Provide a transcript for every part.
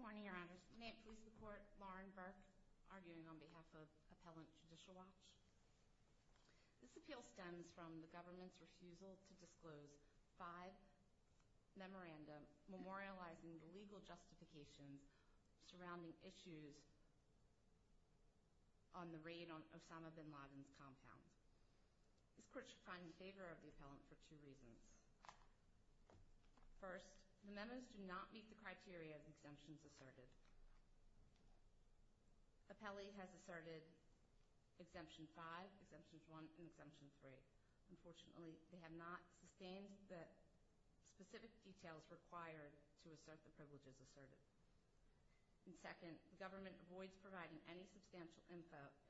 Ms. Burke for the appellant, Ms. Heifetz for the athletes. Ms. Heifetz for the athletes. Good morning, Your Honors. May it please the Court, Lauren Burke arguing on behalf of Appellant Judicial Watch. This appeal stems from the government's refusal to disclose five memoranda memorializing the legal justifications surrounding issues on the raid on Osama Bin Laden's This Court should find in favor of the appellant for two reasons. First, the memos do not meet the criteria of exemptions asserted. Appellee has asserted Exemption 5, Exemption 1, and Exemption 3. Unfortunately, they have not sustained the specific details required to assert the privileges asserted. And second, the government avoids providing any substantial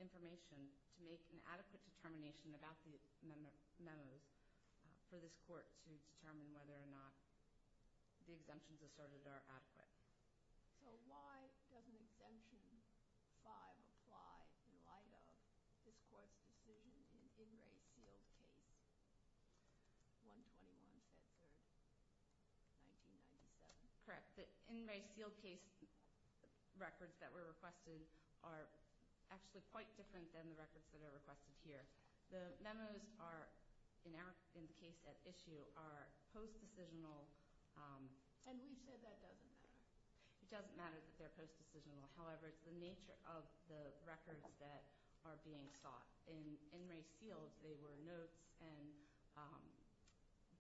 information to make an adequate determination about the memos for this Court to determine whether or not the exemptions asserted are adequate. So why doesn't Exemption 5 apply in light of this Court's decision in the In Re Sealed Case 121, Set 3, 1997? Correct. The In Re Sealed Case records that were requested are actually quite different than the records that are requested here. The memos are, in the case at issue, are post-decisional. And we've said that doesn't matter. It doesn't matter that they're post-decisional. However, it's the nature of the records that are being sought. In In Re Sealed, they were notes and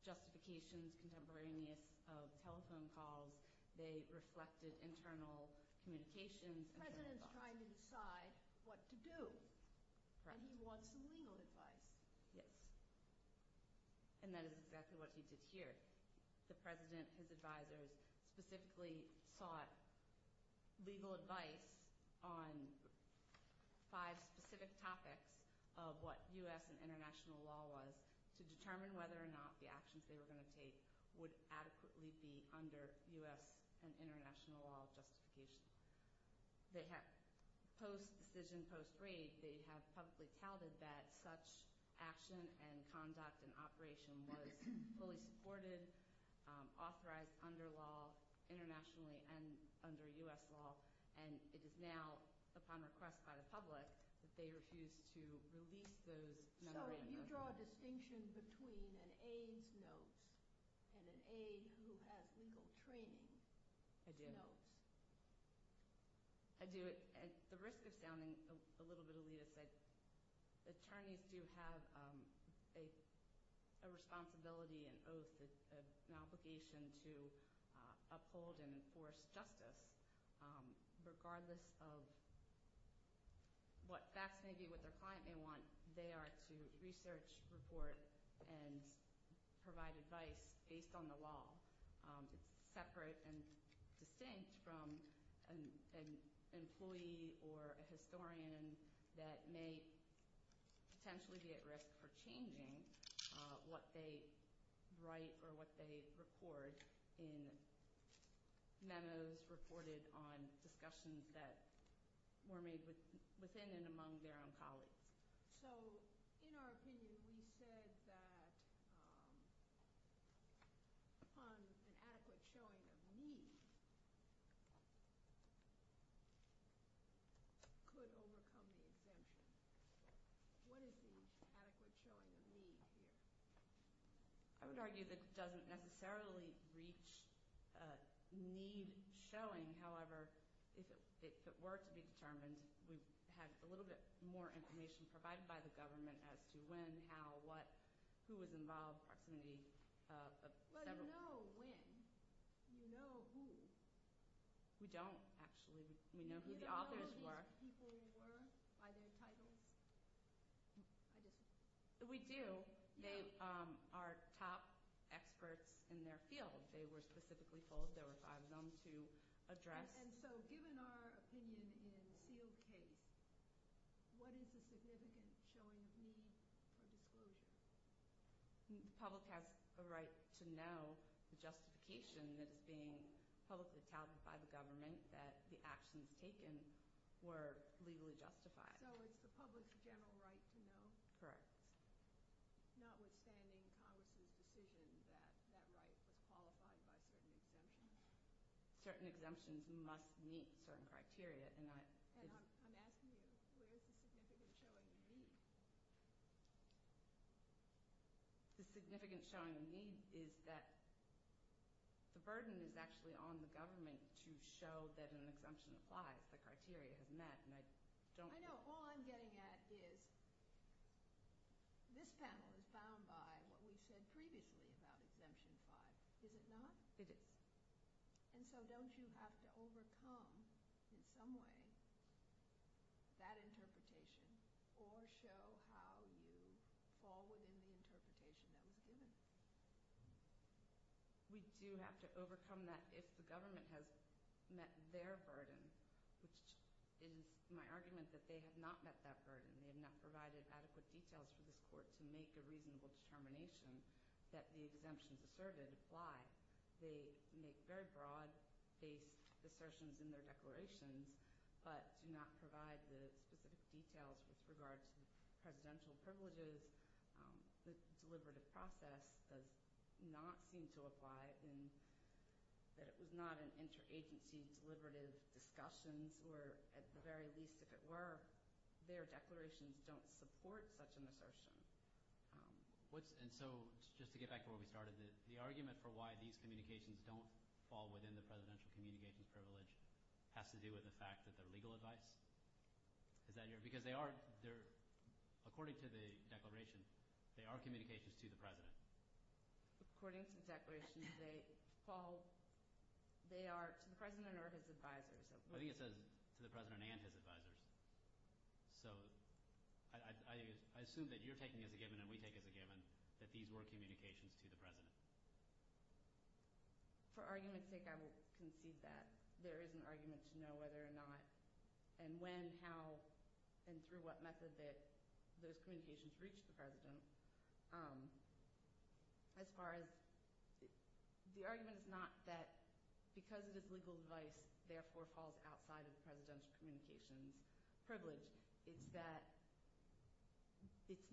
justifications contemporaneous of telephone calls. They reflected internal communications. The President's trying to decide what to do. And he wants some legal advice. Yes. And that is exactly what he did here. The President and his advisors specifically sought legal advice on five specific topics of what U.S. and international law was to determine whether or not the actions they were going to take would adequately be under U.S. and international law justification. Post-decision, post-rate, they have publicly touted that such action and conduct and operation was fully supported, authorized under law internationally and under U.S. law. And it is now, upon request by the public, that they refuse to release those. So you draw a distinction between an aide's notes and an aide who has legal training notes. I do. I do. At the risk of sounding a little bit elitist, attorneys do have a responsibility, an oath, an obligation to uphold and enforce justice regardless of what facts may be, what their client may want. They are to research, report, and provide advice based on the law. It's separate and distinct from an employee or a historian that may potentially be at risk for changing what they write or what they record in memos reported on discussions that were made within and among their own colleagues. So in our opinion, we said that an adequate showing of need could overcome the exemption. What is the adequate showing of need here? I would argue that it doesn't necessarily reach need showing. However, if it were to be determined, we have a little bit more information provided by the government as to when, how, what, who was involved, proximity of several people. Well, you know when. You know who. We don't, actually. We know who the authors were. Do you know who these people were by their titles? We do. They are top experts in their field. They were specifically told there were five of them to address. And so given our opinion in the sealed case, what is the significant showing of need or disclosure? The public has a right to know the justification that is being publicly touted by the government that the actions taken were legally justified. So it's the public's general right to know? Correct. Notwithstanding Congress's decision that that right was qualified by certain exemptions. Certain exemptions must meet certain criteria. And I'm asking you, where is the significant showing of need? The significant showing of need is that the burden is actually on the government to show that an exemption applies, the criteria has met. I know. All I'm getting at is this panel is bound by what we said previously about Exemption 5. Is it not? It is. And so don't you have to overcome in some way that interpretation or show how you fall within the interpretation that was given? We do have to overcome that if the government has met their burden, which is my argument that they have not met that burden. They have not provided adequate details for this court to make a reasonable determination that the exemptions asserted apply. They make very broad-based assertions in their declarations but do not provide the specific details with regard to presidential privileges. The deliberative process does not seem to apply in that it was not an interagency deliberative discussions where at the very least, if it were, their declarations don't support such an assertion. And so just to get back to where we started, the argument for why these communications don't fall within the presidential communications privilege has to do with the fact that they're legal advice? Is that your – because they are – according to the declaration, they are communications to the president. According to the declaration, they fall – they are to the president or his advisors. I think it says to the president and his advisors. So I assume that you're taking as a given and we take as a given that these were communications to the president. For argument's sake, I will concede that. There is an argument to know whether or not and when, how, and through what method that those communications reach the president. As far as – the argument is not that because it is legal advice, therefore, falls outside of the presidential communications privilege. It's that it's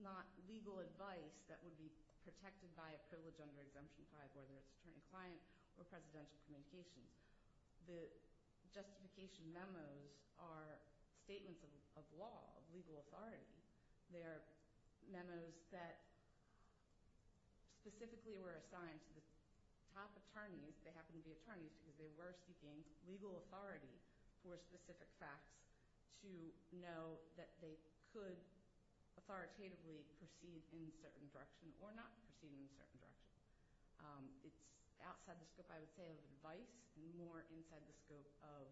not legal advice that would be protected by a privilege under Exemption 5, whether it's attorney-client or presidential communications. The justification memos are statements of law, of legal authority. They are memos that specifically were assigned to the top attorneys. They happen to be attorneys because they were seeking legal authority for specific facts to know that they could authoritatively proceed in a certain direction or not proceed in a certain direction. It's outside the scope, I would say, of advice and more inside the scope of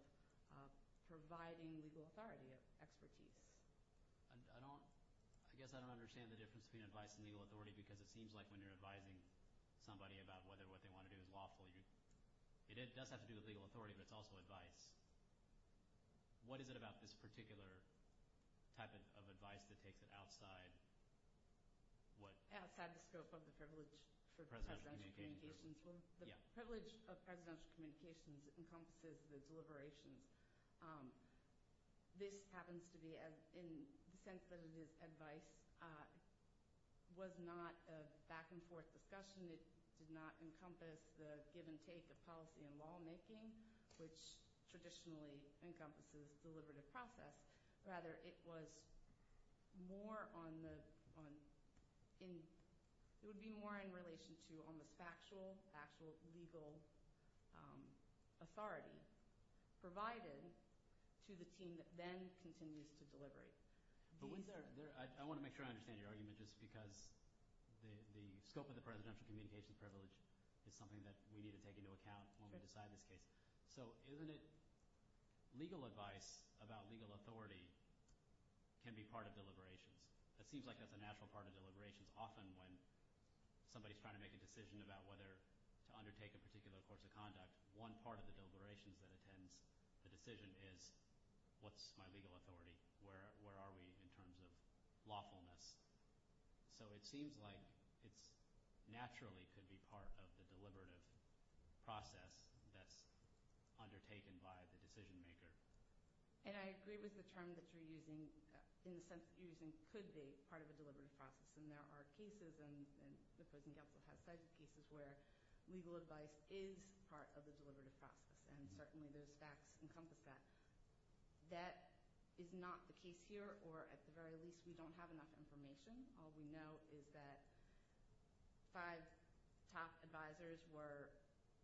providing legal authority of expertise. I don't – I guess I don't understand the difference between advice and legal authority because it seems like when you're advising somebody about whether what they want to do is lawful, it does have to do with legal authority, but it's also advice. What is it about this particular type of advice that takes it outside what – Outside the scope of the privilege for presidential communications. The privilege of presidential communications encompasses the deliberations. This happens to be, in the sense that it is advice, was not a back-and-forth discussion. It did not encompass the give-and-take of policy and lawmaking, which traditionally encompasses deliberative process. Rather, it was more on the – it would be more in relation to almost factual, actual legal authority. provided to the team that then continues to deliberate. I want to make sure I understand your argument just because the scope of the presidential communications privilege is something that we need to take into account when we decide this case. So isn't it legal advice about legal authority can be part of deliberations? It seems like that's a natural part of deliberations. Often when somebody is trying to make a decision about whether to undertake a particular course of conduct, one part of the deliberations that attends the decision is, what's my legal authority? Where are we in terms of lawfulness? So it seems like it naturally could be part of the deliberative process that's undertaken by the decision maker. And I agree with the term that you're using in the sense that you're using could be part of a deliberative process. And there are cases and the prison council has said cases where legal advice is part of the deliberative process. And certainly those facts encompass that. That is not the case here, or at the very least, we don't have enough information. All we know is that five top advisors were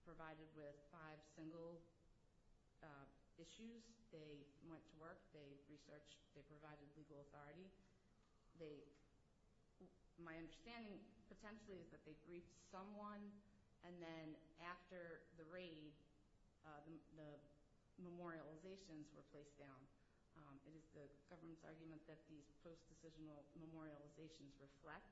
provided with five single issues. They went to work. They researched. They provided legal authority. My understanding, potentially, is that they grieved someone. And then after the raid, the memorializations were placed down. It is the government's argument that these post-decisional memorializations reflect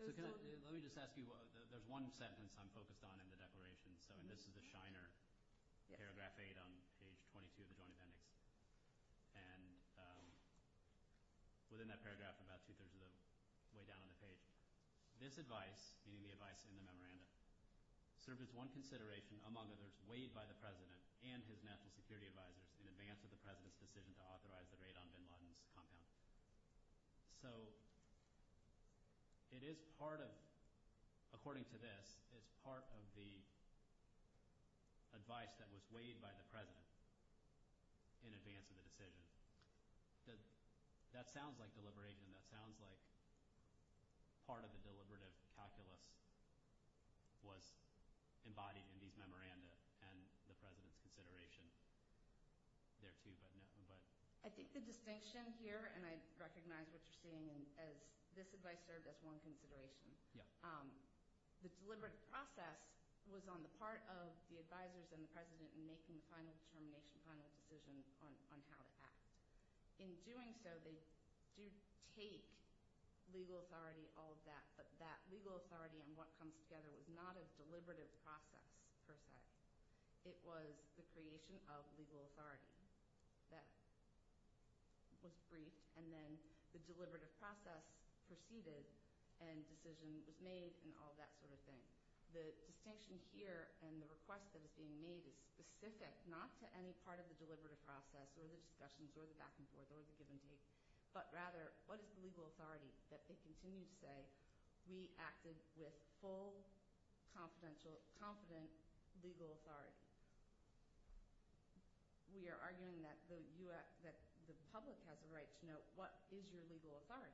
those. Let me just ask you, there's one sentence I'm focused on in the declaration. And this is the Shiner, paragraph 8 on page 22 of the Joint Appendix. And within that paragraph, about two-thirds of the way down on the page, this advice, meaning the advice in the memorandum, served as one consideration, among others, weighed by the president and his national security advisors in advance of the president's decision to authorize the raid on bin Laden's compound. So it is part of – according to this, it's part of the advice that was weighed by the president. In advance of the decision. That sounds like deliberation. That sounds like part of the deliberative calculus was embodied in these memoranda and the president's consideration there, too, but no. I think the distinction here, and I recognize what you're saying, is this advice served as one consideration. Yeah. The deliberative process was on the part of the advisors and the president in making the final determination, final decision on how to act. In doing so, they do take legal authority, all of that, but that legal authority and what comes together was not a deliberative process, per se. It was the creation of legal authority that was briefed, and then the deliberative process proceeded and decision was made and all that sort of thing. The distinction here and the request that was being made is specific not to any part of the deliberative process or the discussions or the back and forth or the give and take, but rather what is the legal authority that they continue to say we acted with full, confident legal authority. We are arguing that the public has a right to know what is your legal authority.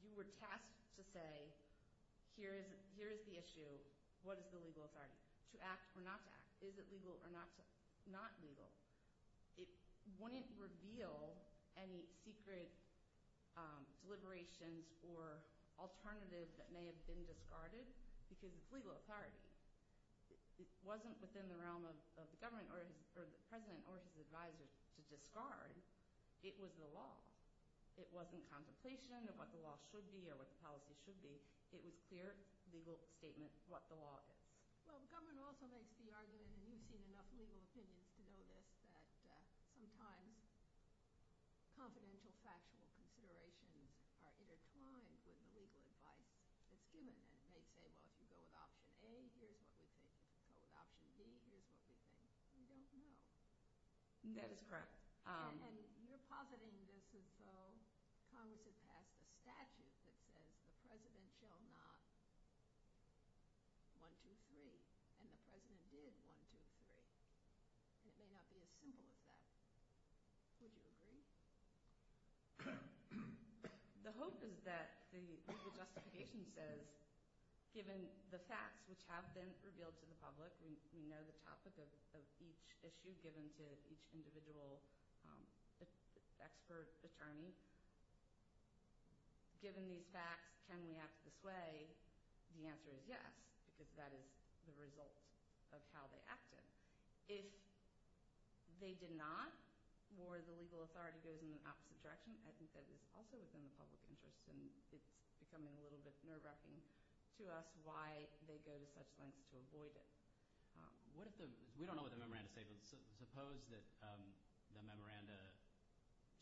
You were tasked to say here is the issue, what is the legal authority, to act or not to act. Is it legal or not legal? It wouldn't reveal any secret deliberations or alternative that may have been discarded because it's legal authority. It wasn't within the realm of the government or the president or his advisors to discard. It was the law. It wasn't contemplation of what the law should be or what the policy should be. It was clear legal statement what the law is. Well, the government also makes the argument, and you've seen enough legal opinions to know this, that sometimes confidential factual considerations are intertwined with the legal advice that's given and they say, well, if you go with option A, here's what we think. If you go with option B, here's what we think. We don't know. That is correct. And you're positing this as though Congress had passed a statute that says the president shall not 1, 2, 3, and the president did 1, 2, 3, and it may not be as simple as that. Would you agree? The hope is that the legal justification says, given the facts which have been revealed to the public, we know the topic of each issue given to each individual expert attorney, given these facts, can we act this way? The answer is yes because that is the result of how they acted. If they did not or the legal authority goes in the opposite direction, I think that is also within the public interest, and it's becoming a little bit nerve-wracking to us why they go to such lengths to avoid it. We don't know what the memoranda says, but suppose that the memoranda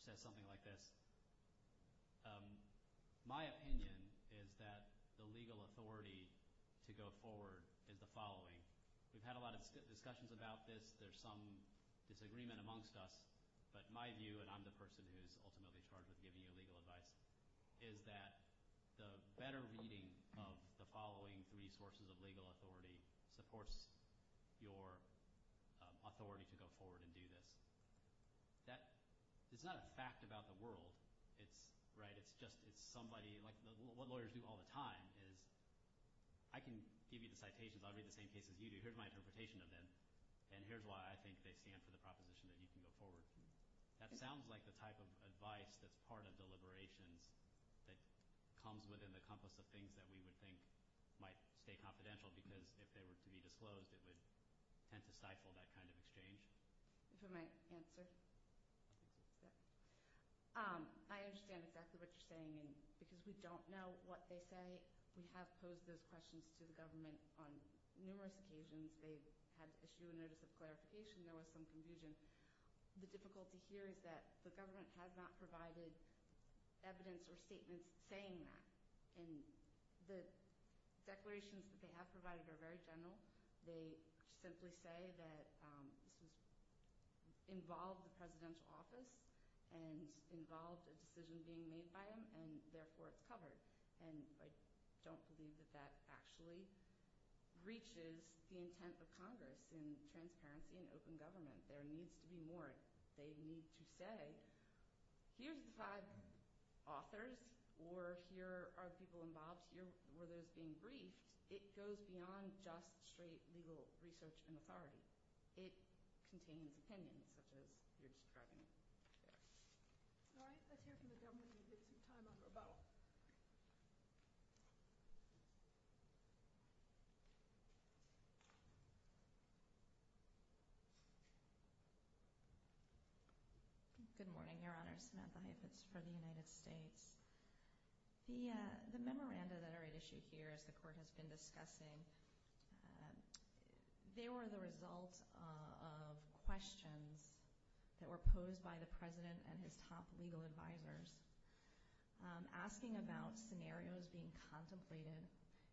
says something like this. My opinion is that the legal authority to go forward is the following. We've had a lot of discussions about this. There's some disagreement amongst us, but my view, and I'm the person who's ultimately charged with giving you legal advice, is that the better reading of the following three sources of legal authority supports your authority to go forward and do this. It's not a fact about the world. It's just somebody – like what lawyers do all the time is I can give you the citations. I'll read the same cases you do. Here's my interpretation of them, and here's why I think they stand for the proposition that you can go forward. That sounds like the type of advice that's part of deliberations that comes within the compass of things that we would think might stay confidential because if they were to be disclosed, it would tend to stifle that kind of exchange. If I may answer. I understand exactly what you're saying because we don't know what they say. We have posed those questions to the government on numerous occasions. They've had to issue a notice of clarification. There was some confusion. The difficulty here is that the government has not provided evidence or statements saying that, and the declarations that they have provided are very general. They simply say that this involved the presidential office and involved a decision being made by them, and therefore it's covered, and I don't believe that that actually reaches the intent of Congress in transparency and open government. There needs to be more. They need to say here's the five authors or here are the people involved, here were those being briefed. It goes beyond just straight legal research and authority. It contains opinions such as you're describing. All right. Let's hear from the government and get some time on the rebuttal. Good morning, Your Honor. Samantha Heifetz for the United States. The memoranda that are at issue here, as the Court has been discussing, they were the result of questions that were posed by the President and his top legal advisors asking about scenarios being contemplated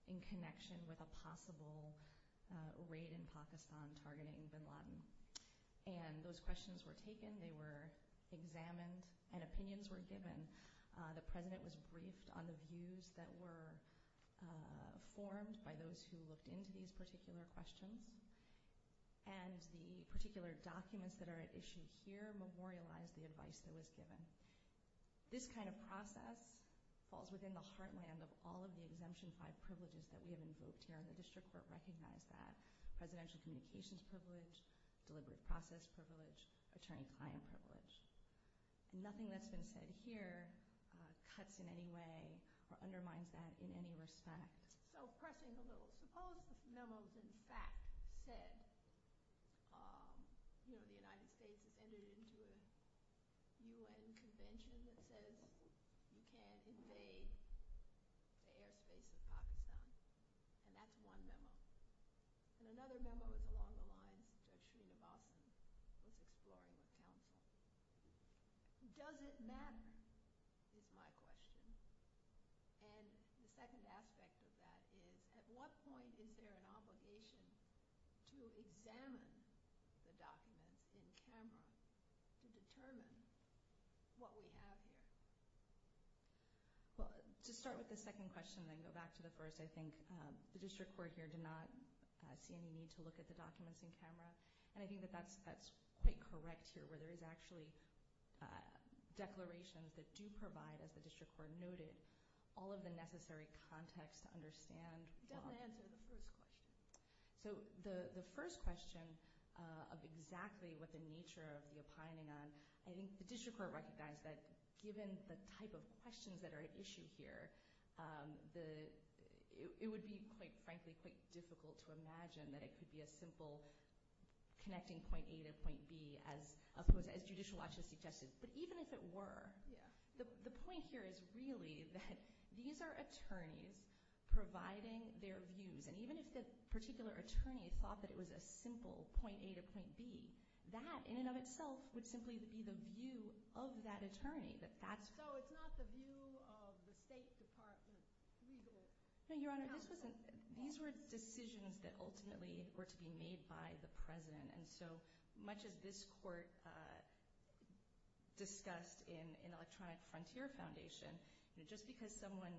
in connection with a possible raid in Pakistan targeting bin Laden. And those questions were taken, they were examined, and opinions were given. The President was briefed on the views that were formed by those who looked into these particular questions, and the particular documents that are at issue here memorialized the advice that was given. This kind of process falls within the heartland of all of the Exemption 5 privileges that we have invoked here, and the District Court recognized that. Presidential communications privilege, deliberate process privilege, attorney-client privilege. Nothing that's been said here cuts in any way or undermines that in any respect. So pressing a little. Suppose this memo is in fact said, you know, the United States has entered into a U.N. convention that says you can't invade the airspace of Pakistan. And that's one memo. And another memo is along the lines Judge Sreenivasan was exploring with counsel. Does it matter is my question. And the second aspect of that is at what point is there an obligation to examine the documents in camera to determine what we have here. Well, to start with the second question and then go back to the first, I think the District Court here did not see any need to look at the documents in camera. And I think that that's quite correct here where there is actually declarations that do provide, as the District Court noted, all of the necessary context to understand. It doesn't answer the first question. So the first question of exactly what the nature of the opining on, I think the District Court recognized that given the type of questions that are at issue here, it would be quite frankly quite difficult to imagine that it could be a simple connecting point A to point B as Judicial Watch has suggested. But even if it were, the point here is really that these are attorneys providing their views. And even if the particular attorney thought that it was a simple point A to point B, that in and of itself would simply be the view of that attorney. So it's not the view of the State Department, legal counsel? No, Your Honor. These were decisions that ultimately were to be made by the President. And so much as this Court discussed in Electronic Frontier Foundation, just because someone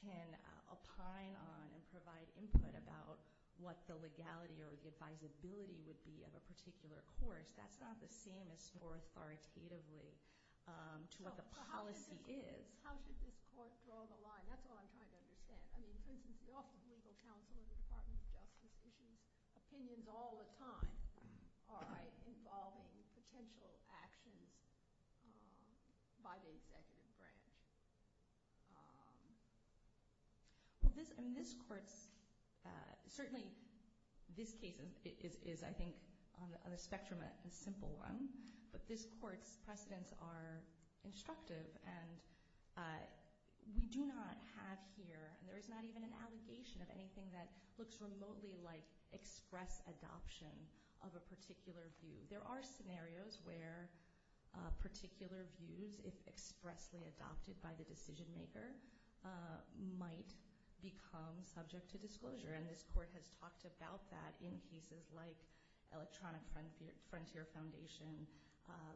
can opine on and provide input about what the legality or the advisability would be of a particular course, that's not the same as more authoritatively to what the policy is. How should this Court draw the line? That's what I'm trying to understand. I mean, for instance, the Office of Legal Counsel and the Department of Justice issues opinions all the time. Are they involving potential actions by the executive branch? Well, this Court's – certainly this case is, I think, on the spectrum of a simple one. But this Court's precedents are instructive, and we do not have here, and there is not even an allegation of anything that looks remotely like express adoption of a particular view. There are scenarios where particular views, if expressly adopted by the decision maker, might become subject to disclosure. And this Court has talked about that in cases like Electronic Frontier Foundation,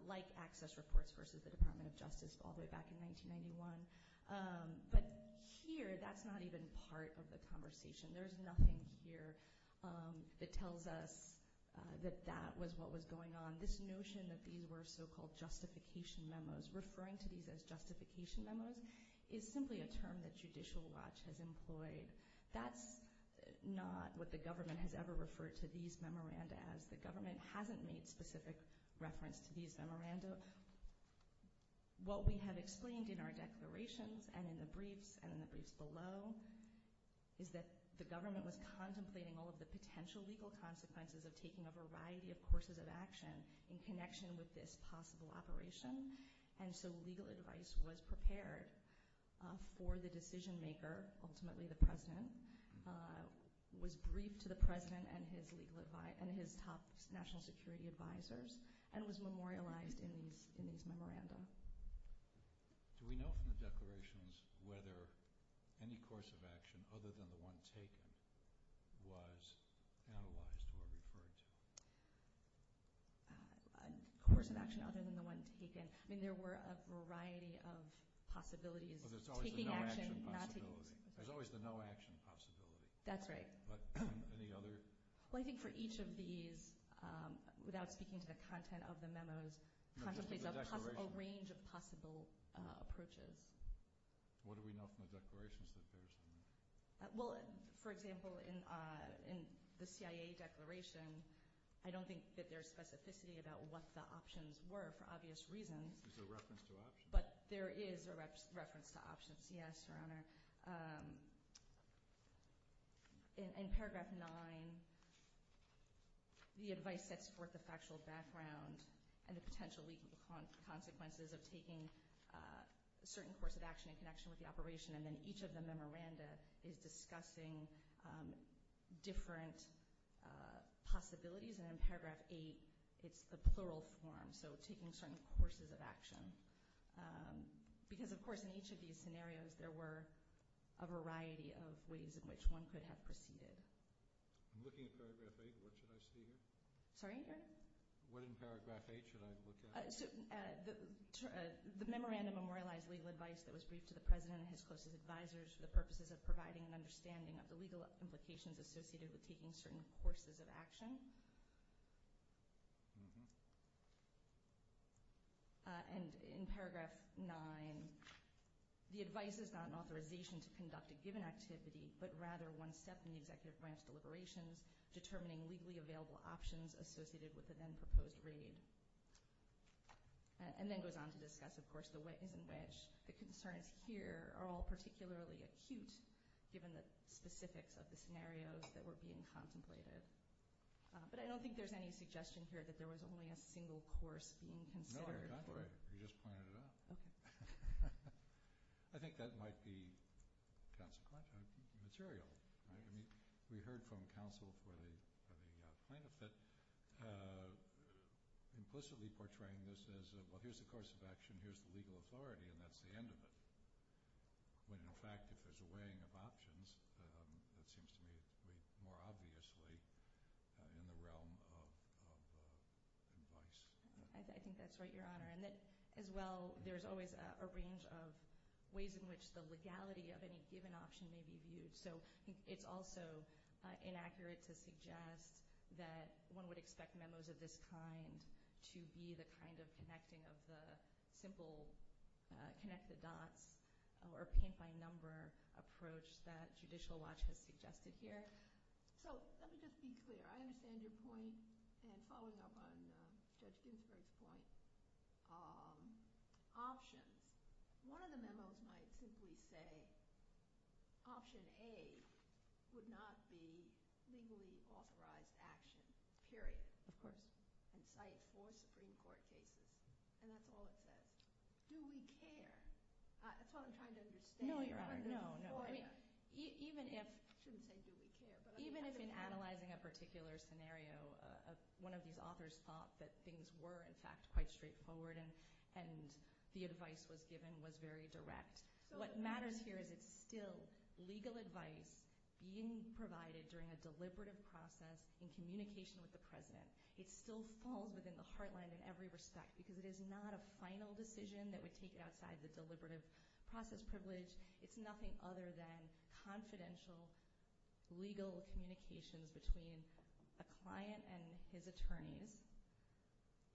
like Access Reports versus the Department of Justice all the way back in 1991. But here, that's not even part of the conversation. There's nothing here that tells us that that was what was going on. This notion that these were so-called justification memos, referring to these as justification memos, is simply a term that Judicial Watch has employed. That's not what the government has ever referred to these memoranda as. The government hasn't made specific reference to these memoranda. What we have explained in our declarations and in the briefs and in the briefs below is that the government was contemplating all of the potential legal consequences of taking a variety of courses of action in connection with this possible operation. And so legal advice was prepared for the decision maker, ultimately the President, was briefed to the President and his top national security advisors, and was memorialized in these memoranda. Do we know from the declarations whether any course of action other than the one taken was analyzed or referred to? A course of action other than the one taken? I mean, there were a variety of possibilities. There's always the no-action possibility. There's always the no-action possibility. That's right. Any other? A range of possible approaches. What do we know from the declarations that there is? Well, for example, in the CIA declaration, I don't think that there's specificity about what the options were for obvious reasons. There's a reference to options. But there is a reference to options, yes, Your Honor. In Paragraph 9, the advice sets forth the factual background and the potential legal consequences of taking a certain course of action in connection with the operation, and then each of the memoranda is discussing different possibilities. And in Paragraph 8, it's the plural form, so taking certain courses of action. Because, of course, in each of these scenarios, there were a variety of ways in which one could have proceeded. I'm looking at Paragraph 8. What should I see here? Sorry, Your Honor? What in Paragraph 8 should I look at? The memoranda memorialized legal advice that was briefed to the President and his closest advisors for the purposes of providing an understanding of the legal implications associated with taking certain courses of action. And in Paragraph 9, the advice is not an authorization to conduct a given activity, but rather one step in the executive branch deliberations determining legally available options associated with the then-proposed raid. And then it goes on to discuss, of course, the ways in which the concerns here are all particularly acute, given the specifics of the scenarios that were being contemplated. But I don't think there's any suggestion here that there was only a single course being considered. No, I agree. You just pointed it out. Okay. I think that might be consequential material. We heard from counsel for the plaintiff that implicitly portraying this as, well, here's the course of action, here's the legal authority, and that's the end of it. When, in fact, if there's a weighing of options, that seems to me to be more obviously in the realm of advice. I think that's right, Your Honor. And that, as well, there's always a range of ways in which the legality of any given option may be viewed. So it's also inaccurate to suggest that one would expect memos of this kind to be the kind of connecting of the simple connect-the-dots or paint-by-number approach that Judicial Watch has suggested here. So let me just be clear. I understand your point, and following up on Judge Ginsburg's point, options. One of the memos might simply say, Option A would not be legally authorized action, period. Of course. And cite four Supreme Court cases. And that's all it says. Do we care? That's what I'm trying to understand. No, Your Honor. No, no. I shouldn't say do we care. Even if in analyzing a particular scenario, one of these authors thought that things were, in fact, quite straightforward and the advice was given was very direct. What matters here is it's still legal advice being provided during a deliberative process in communication with the President. It still falls within the heartland in every respect, because it is not a final decision that would take it outside the deliberative process privilege. It's nothing other than confidential legal communications between a client and his attorneys.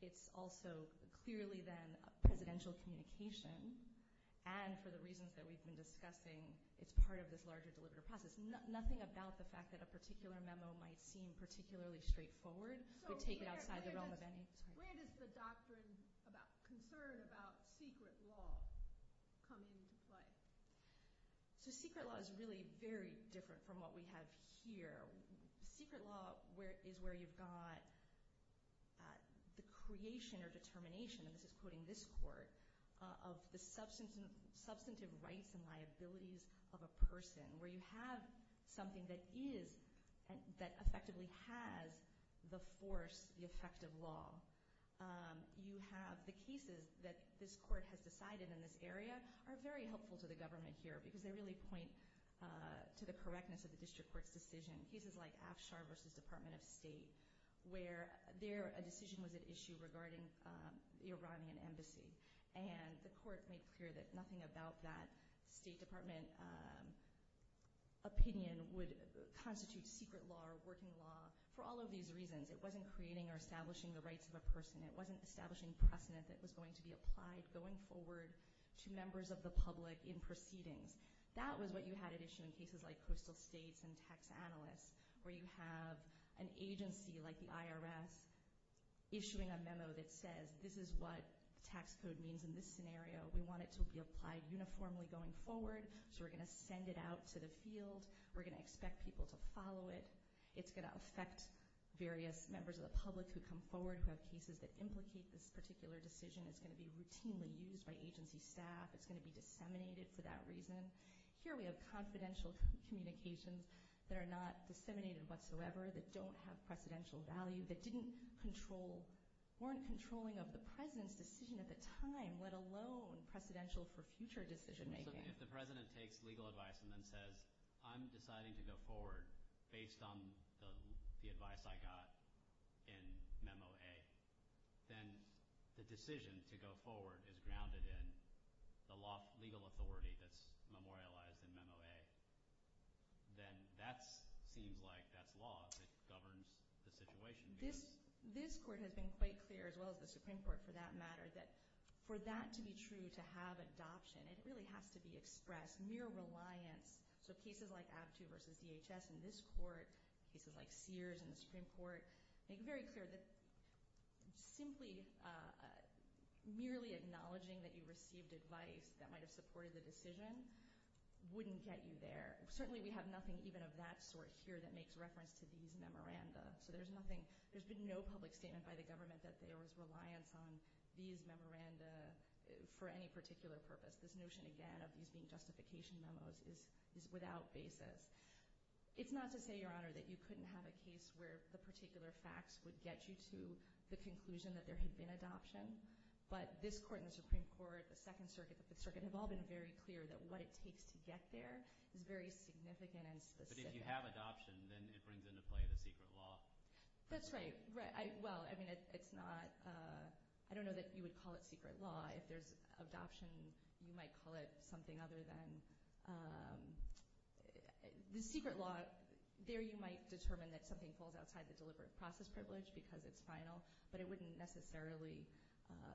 It's also clearly then presidential communication. And for the reasons that we've been discussing, it's part of this larger deliberative process. Nothing about the fact that a particular memo might seem particularly straightforward would take it outside the realm of any. Where does the doctrine about concern about secret law come into play? So secret law is really very different from what we have here. Secret law is where you've got the creation or determination, and this is quoting this court, of the substantive rights and liabilities of a person, where you have something that effectively has the force, the effect of law. The cases that this court has decided in this area are very helpful to the government here, because they really point to the correctness of the district court's decision. Cases like Afshar v. Department of State, where a decision was at issue regarding the Iranian embassy, and the court made clear that nothing about that State Department opinion would constitute secret law or working law for all of these reasons. It wasn't creating or establishing the rights of a person. It wasn't establishing precedent that was going to be applied going forward to members of the public in proceedings. That was what you had at issue in cases like coastal states and tax analysts, where you have an agency like the IRS issuing a memo that says, this is what tax code means in this scenario. We want it to be applied uniformly going forward, so we're going to send it out to the field. We're going to expect people to follow it. It's going to affect various members of the public who come forward who have cases that implicate this particular decision. It's going to be routinely used by agency staff. It's going to be disseminated for that reason. Here we have confidential communications that are not disseminated whatsoever, that don't have precedential value, that weren't controlling of the President's decision at the time, let alone precedential for future decision making. So if the President takes legal advice and then says, I'm deciding to go forward based on the advice I got in memo A, then the decision to go forward is grounded in the legal authority that's memorialized in memo A. Then that seems like that's law that governs the situation. This court has been quite clear, as well as the Supreme Court for that matter, that for that to be true, to have adoption, it really has to be expressed mere reliance. So cases like ABTU versus DHS in this court, cases like Sears in the Supreme Court, make it very clear that simply merely acknowledging that you received advice that might have supported the decision wouldn't get you there. Certainly we have nothing even of that sort here that makes reference to these memoranda. So there's been no public statement by the government that there was reliance on these memoranda for any particular purpose. This notion, again, of these being justification memos is without basis. It's not to say, Your Honor, that you couldn't have a case where the particular facts would get you to the conclusion that there had been adoption, but this court and the Supreme Court, the Second Circuit, the Fifth Circuit, have all been very clear that what it takes to get there is very significant and specific. But if you have adoption, then it brings into play the secret law. That's right. Well, I mean, it's not – I don't know that you would call it secret law. If there's adoption, you might call it something other than – the secret law, there you might determine that something falls outside the deliberate process privilege because it's final, but it wouldn't necessarily –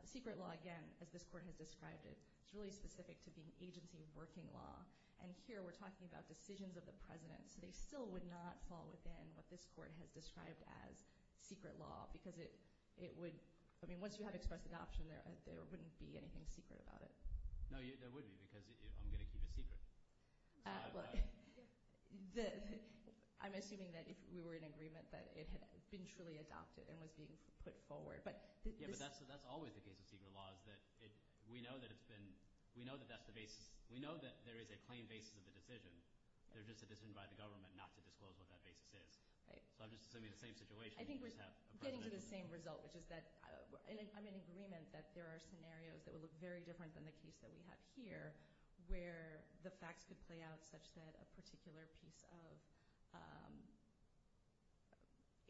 secret law, again, as this court has described it, is really specific to being agency working law. And here we're talking about decisions of the president, so they still would not fall within what this court has described as secret law because it would – I mean, once you have expressed adoption, there wouldn't be anything secret about it. No, there would be because I'm going to keep it secret. I'm assuming that if we were in agreement that it had been truly adopted and was being put forward. Yeah, but that's always the case with secret law is that we know that it's been – we know that that's the basis – we know that there is a claimed basis of the decision. They're just a decision by the government not to disclose what that basis is. So I'm just assuming the same situation. I think we're getting to the same result, which is that I'm in agreement that there are scenarios that would look very different than the case that we have here where the facts could play out such that a particular piece of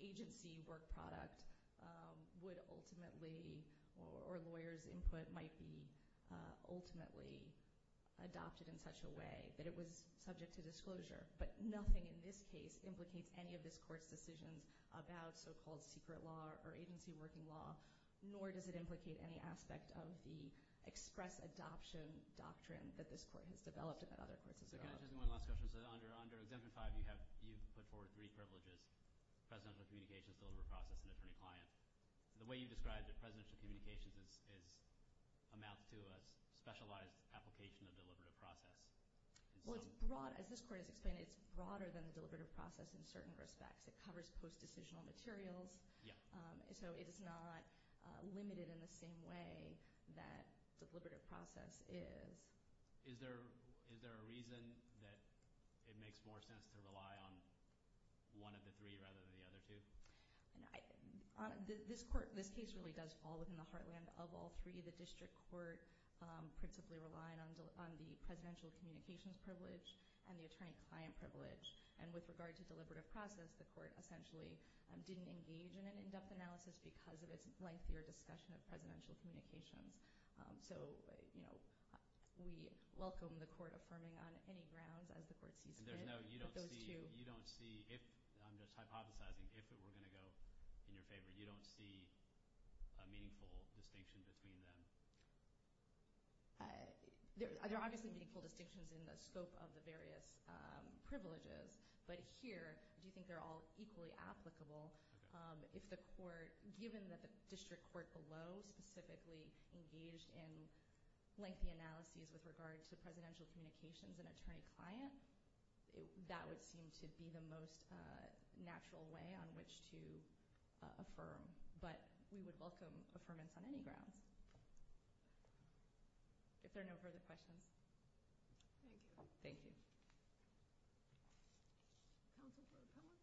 agency work product would ultimately – or lawyers' input might be ultimately adopted in such a way that it was subject to disclosure. But nothing in this case implicates any of this court's decisions about so-called secret law or agency working law, nor does it implicate any aspect of the express adoption doctrine that this court has developed and that other courts have developed. Can I just ask one last question? So under Exemption 5, you have – you've put forward three privileges, presidential communications, deliberative process, and attorney-client. The way you describe the presidential communications is – amounts to a specialized application of deliberative process. Well, it's broad. As this court has explained, it's broader than the deliberative process in certain respects. It covers post-decisional materials. Yeah. So it is not limited in the same way that the deliberative process is. Is there a reason that it makes more sense to rely on one of the three rather than the other two? This court – this case really does fall within the heartland of all three. The district court principally relied on the presidential communications privilege and the attorney-client privilege. And with regard to deliberative process, the court essentially didn't engage in an in-depth analysis because of its lengthier discussion of presidential communications. So, you know, we welcome the court affirming on any grounds as the court sees fit. And there's no – you don't see – you don't see if – I'm just hypothesizing – if it were going to go in your favor, you don't see a meaningful distinction between them? There are obviously meaningful distinctions in the scope of the various privileges. But here, do you think they're all equally applicable if the court – given that the district court below specifically engaged in lengthy analyses with regard to presidential communications and attorney-client, that would seem to be the most natural way on which to affirm. But we would welcome affirmance on any grounds. If there are no further questions. Thank you. Thank you. Counsel for the panel?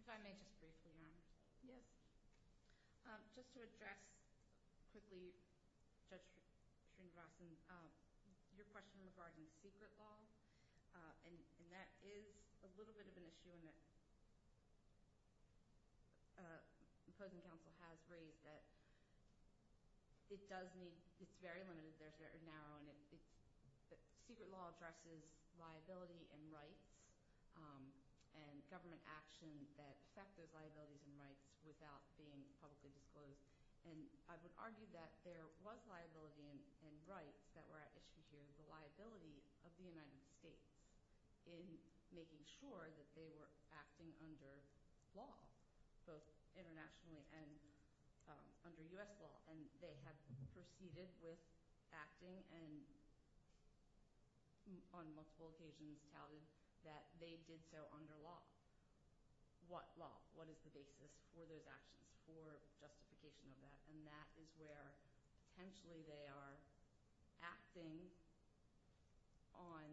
If I may just briefly, Your Honor. Yes. Just to address quickly Judge Srinivasan, your question regarding secret law, and that is a little bit of an issue, and the opposing counsel has raised that it does need – it's very limited, it's very narrow, and it's – secret law addresses liability and rights and government action that affect those liabilities and rights without being publicly disclosed. And I would argue that there was liability and rights that were at issue here. The liability of the United States in making sure that they were acting under law, both internationally and under U.S. law. And they have proceeded with acting and on multiple occasions touted that they did so under law. What law? What is the basis for those actions, for justification of that? And that is where potentially they are acting on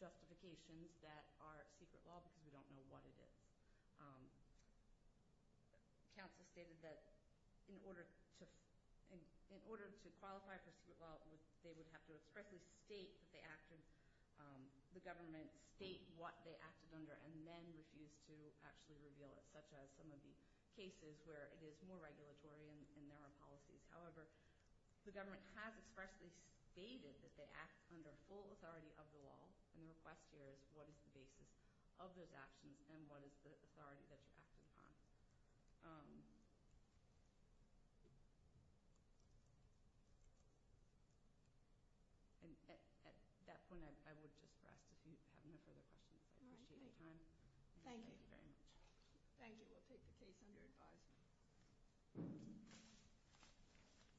justifications that are secret law because we don't know what it is. Counsel stated that in order to qualify for secret law, they would have to expressly state that they acted – the government state what they acted under and then refuse to actually reveal it, such as some of the cases where it is more regulatory and there are policies. However, the government has expressly stated that they act under full authority of the law, and the request here is what is the basis of those actions and what is the authority that you're acting upon. At that point, I would just rest if you have no further questions. I appreciate your time. Thank you. Thank you very much. Thank you. We'll take the case under advisement.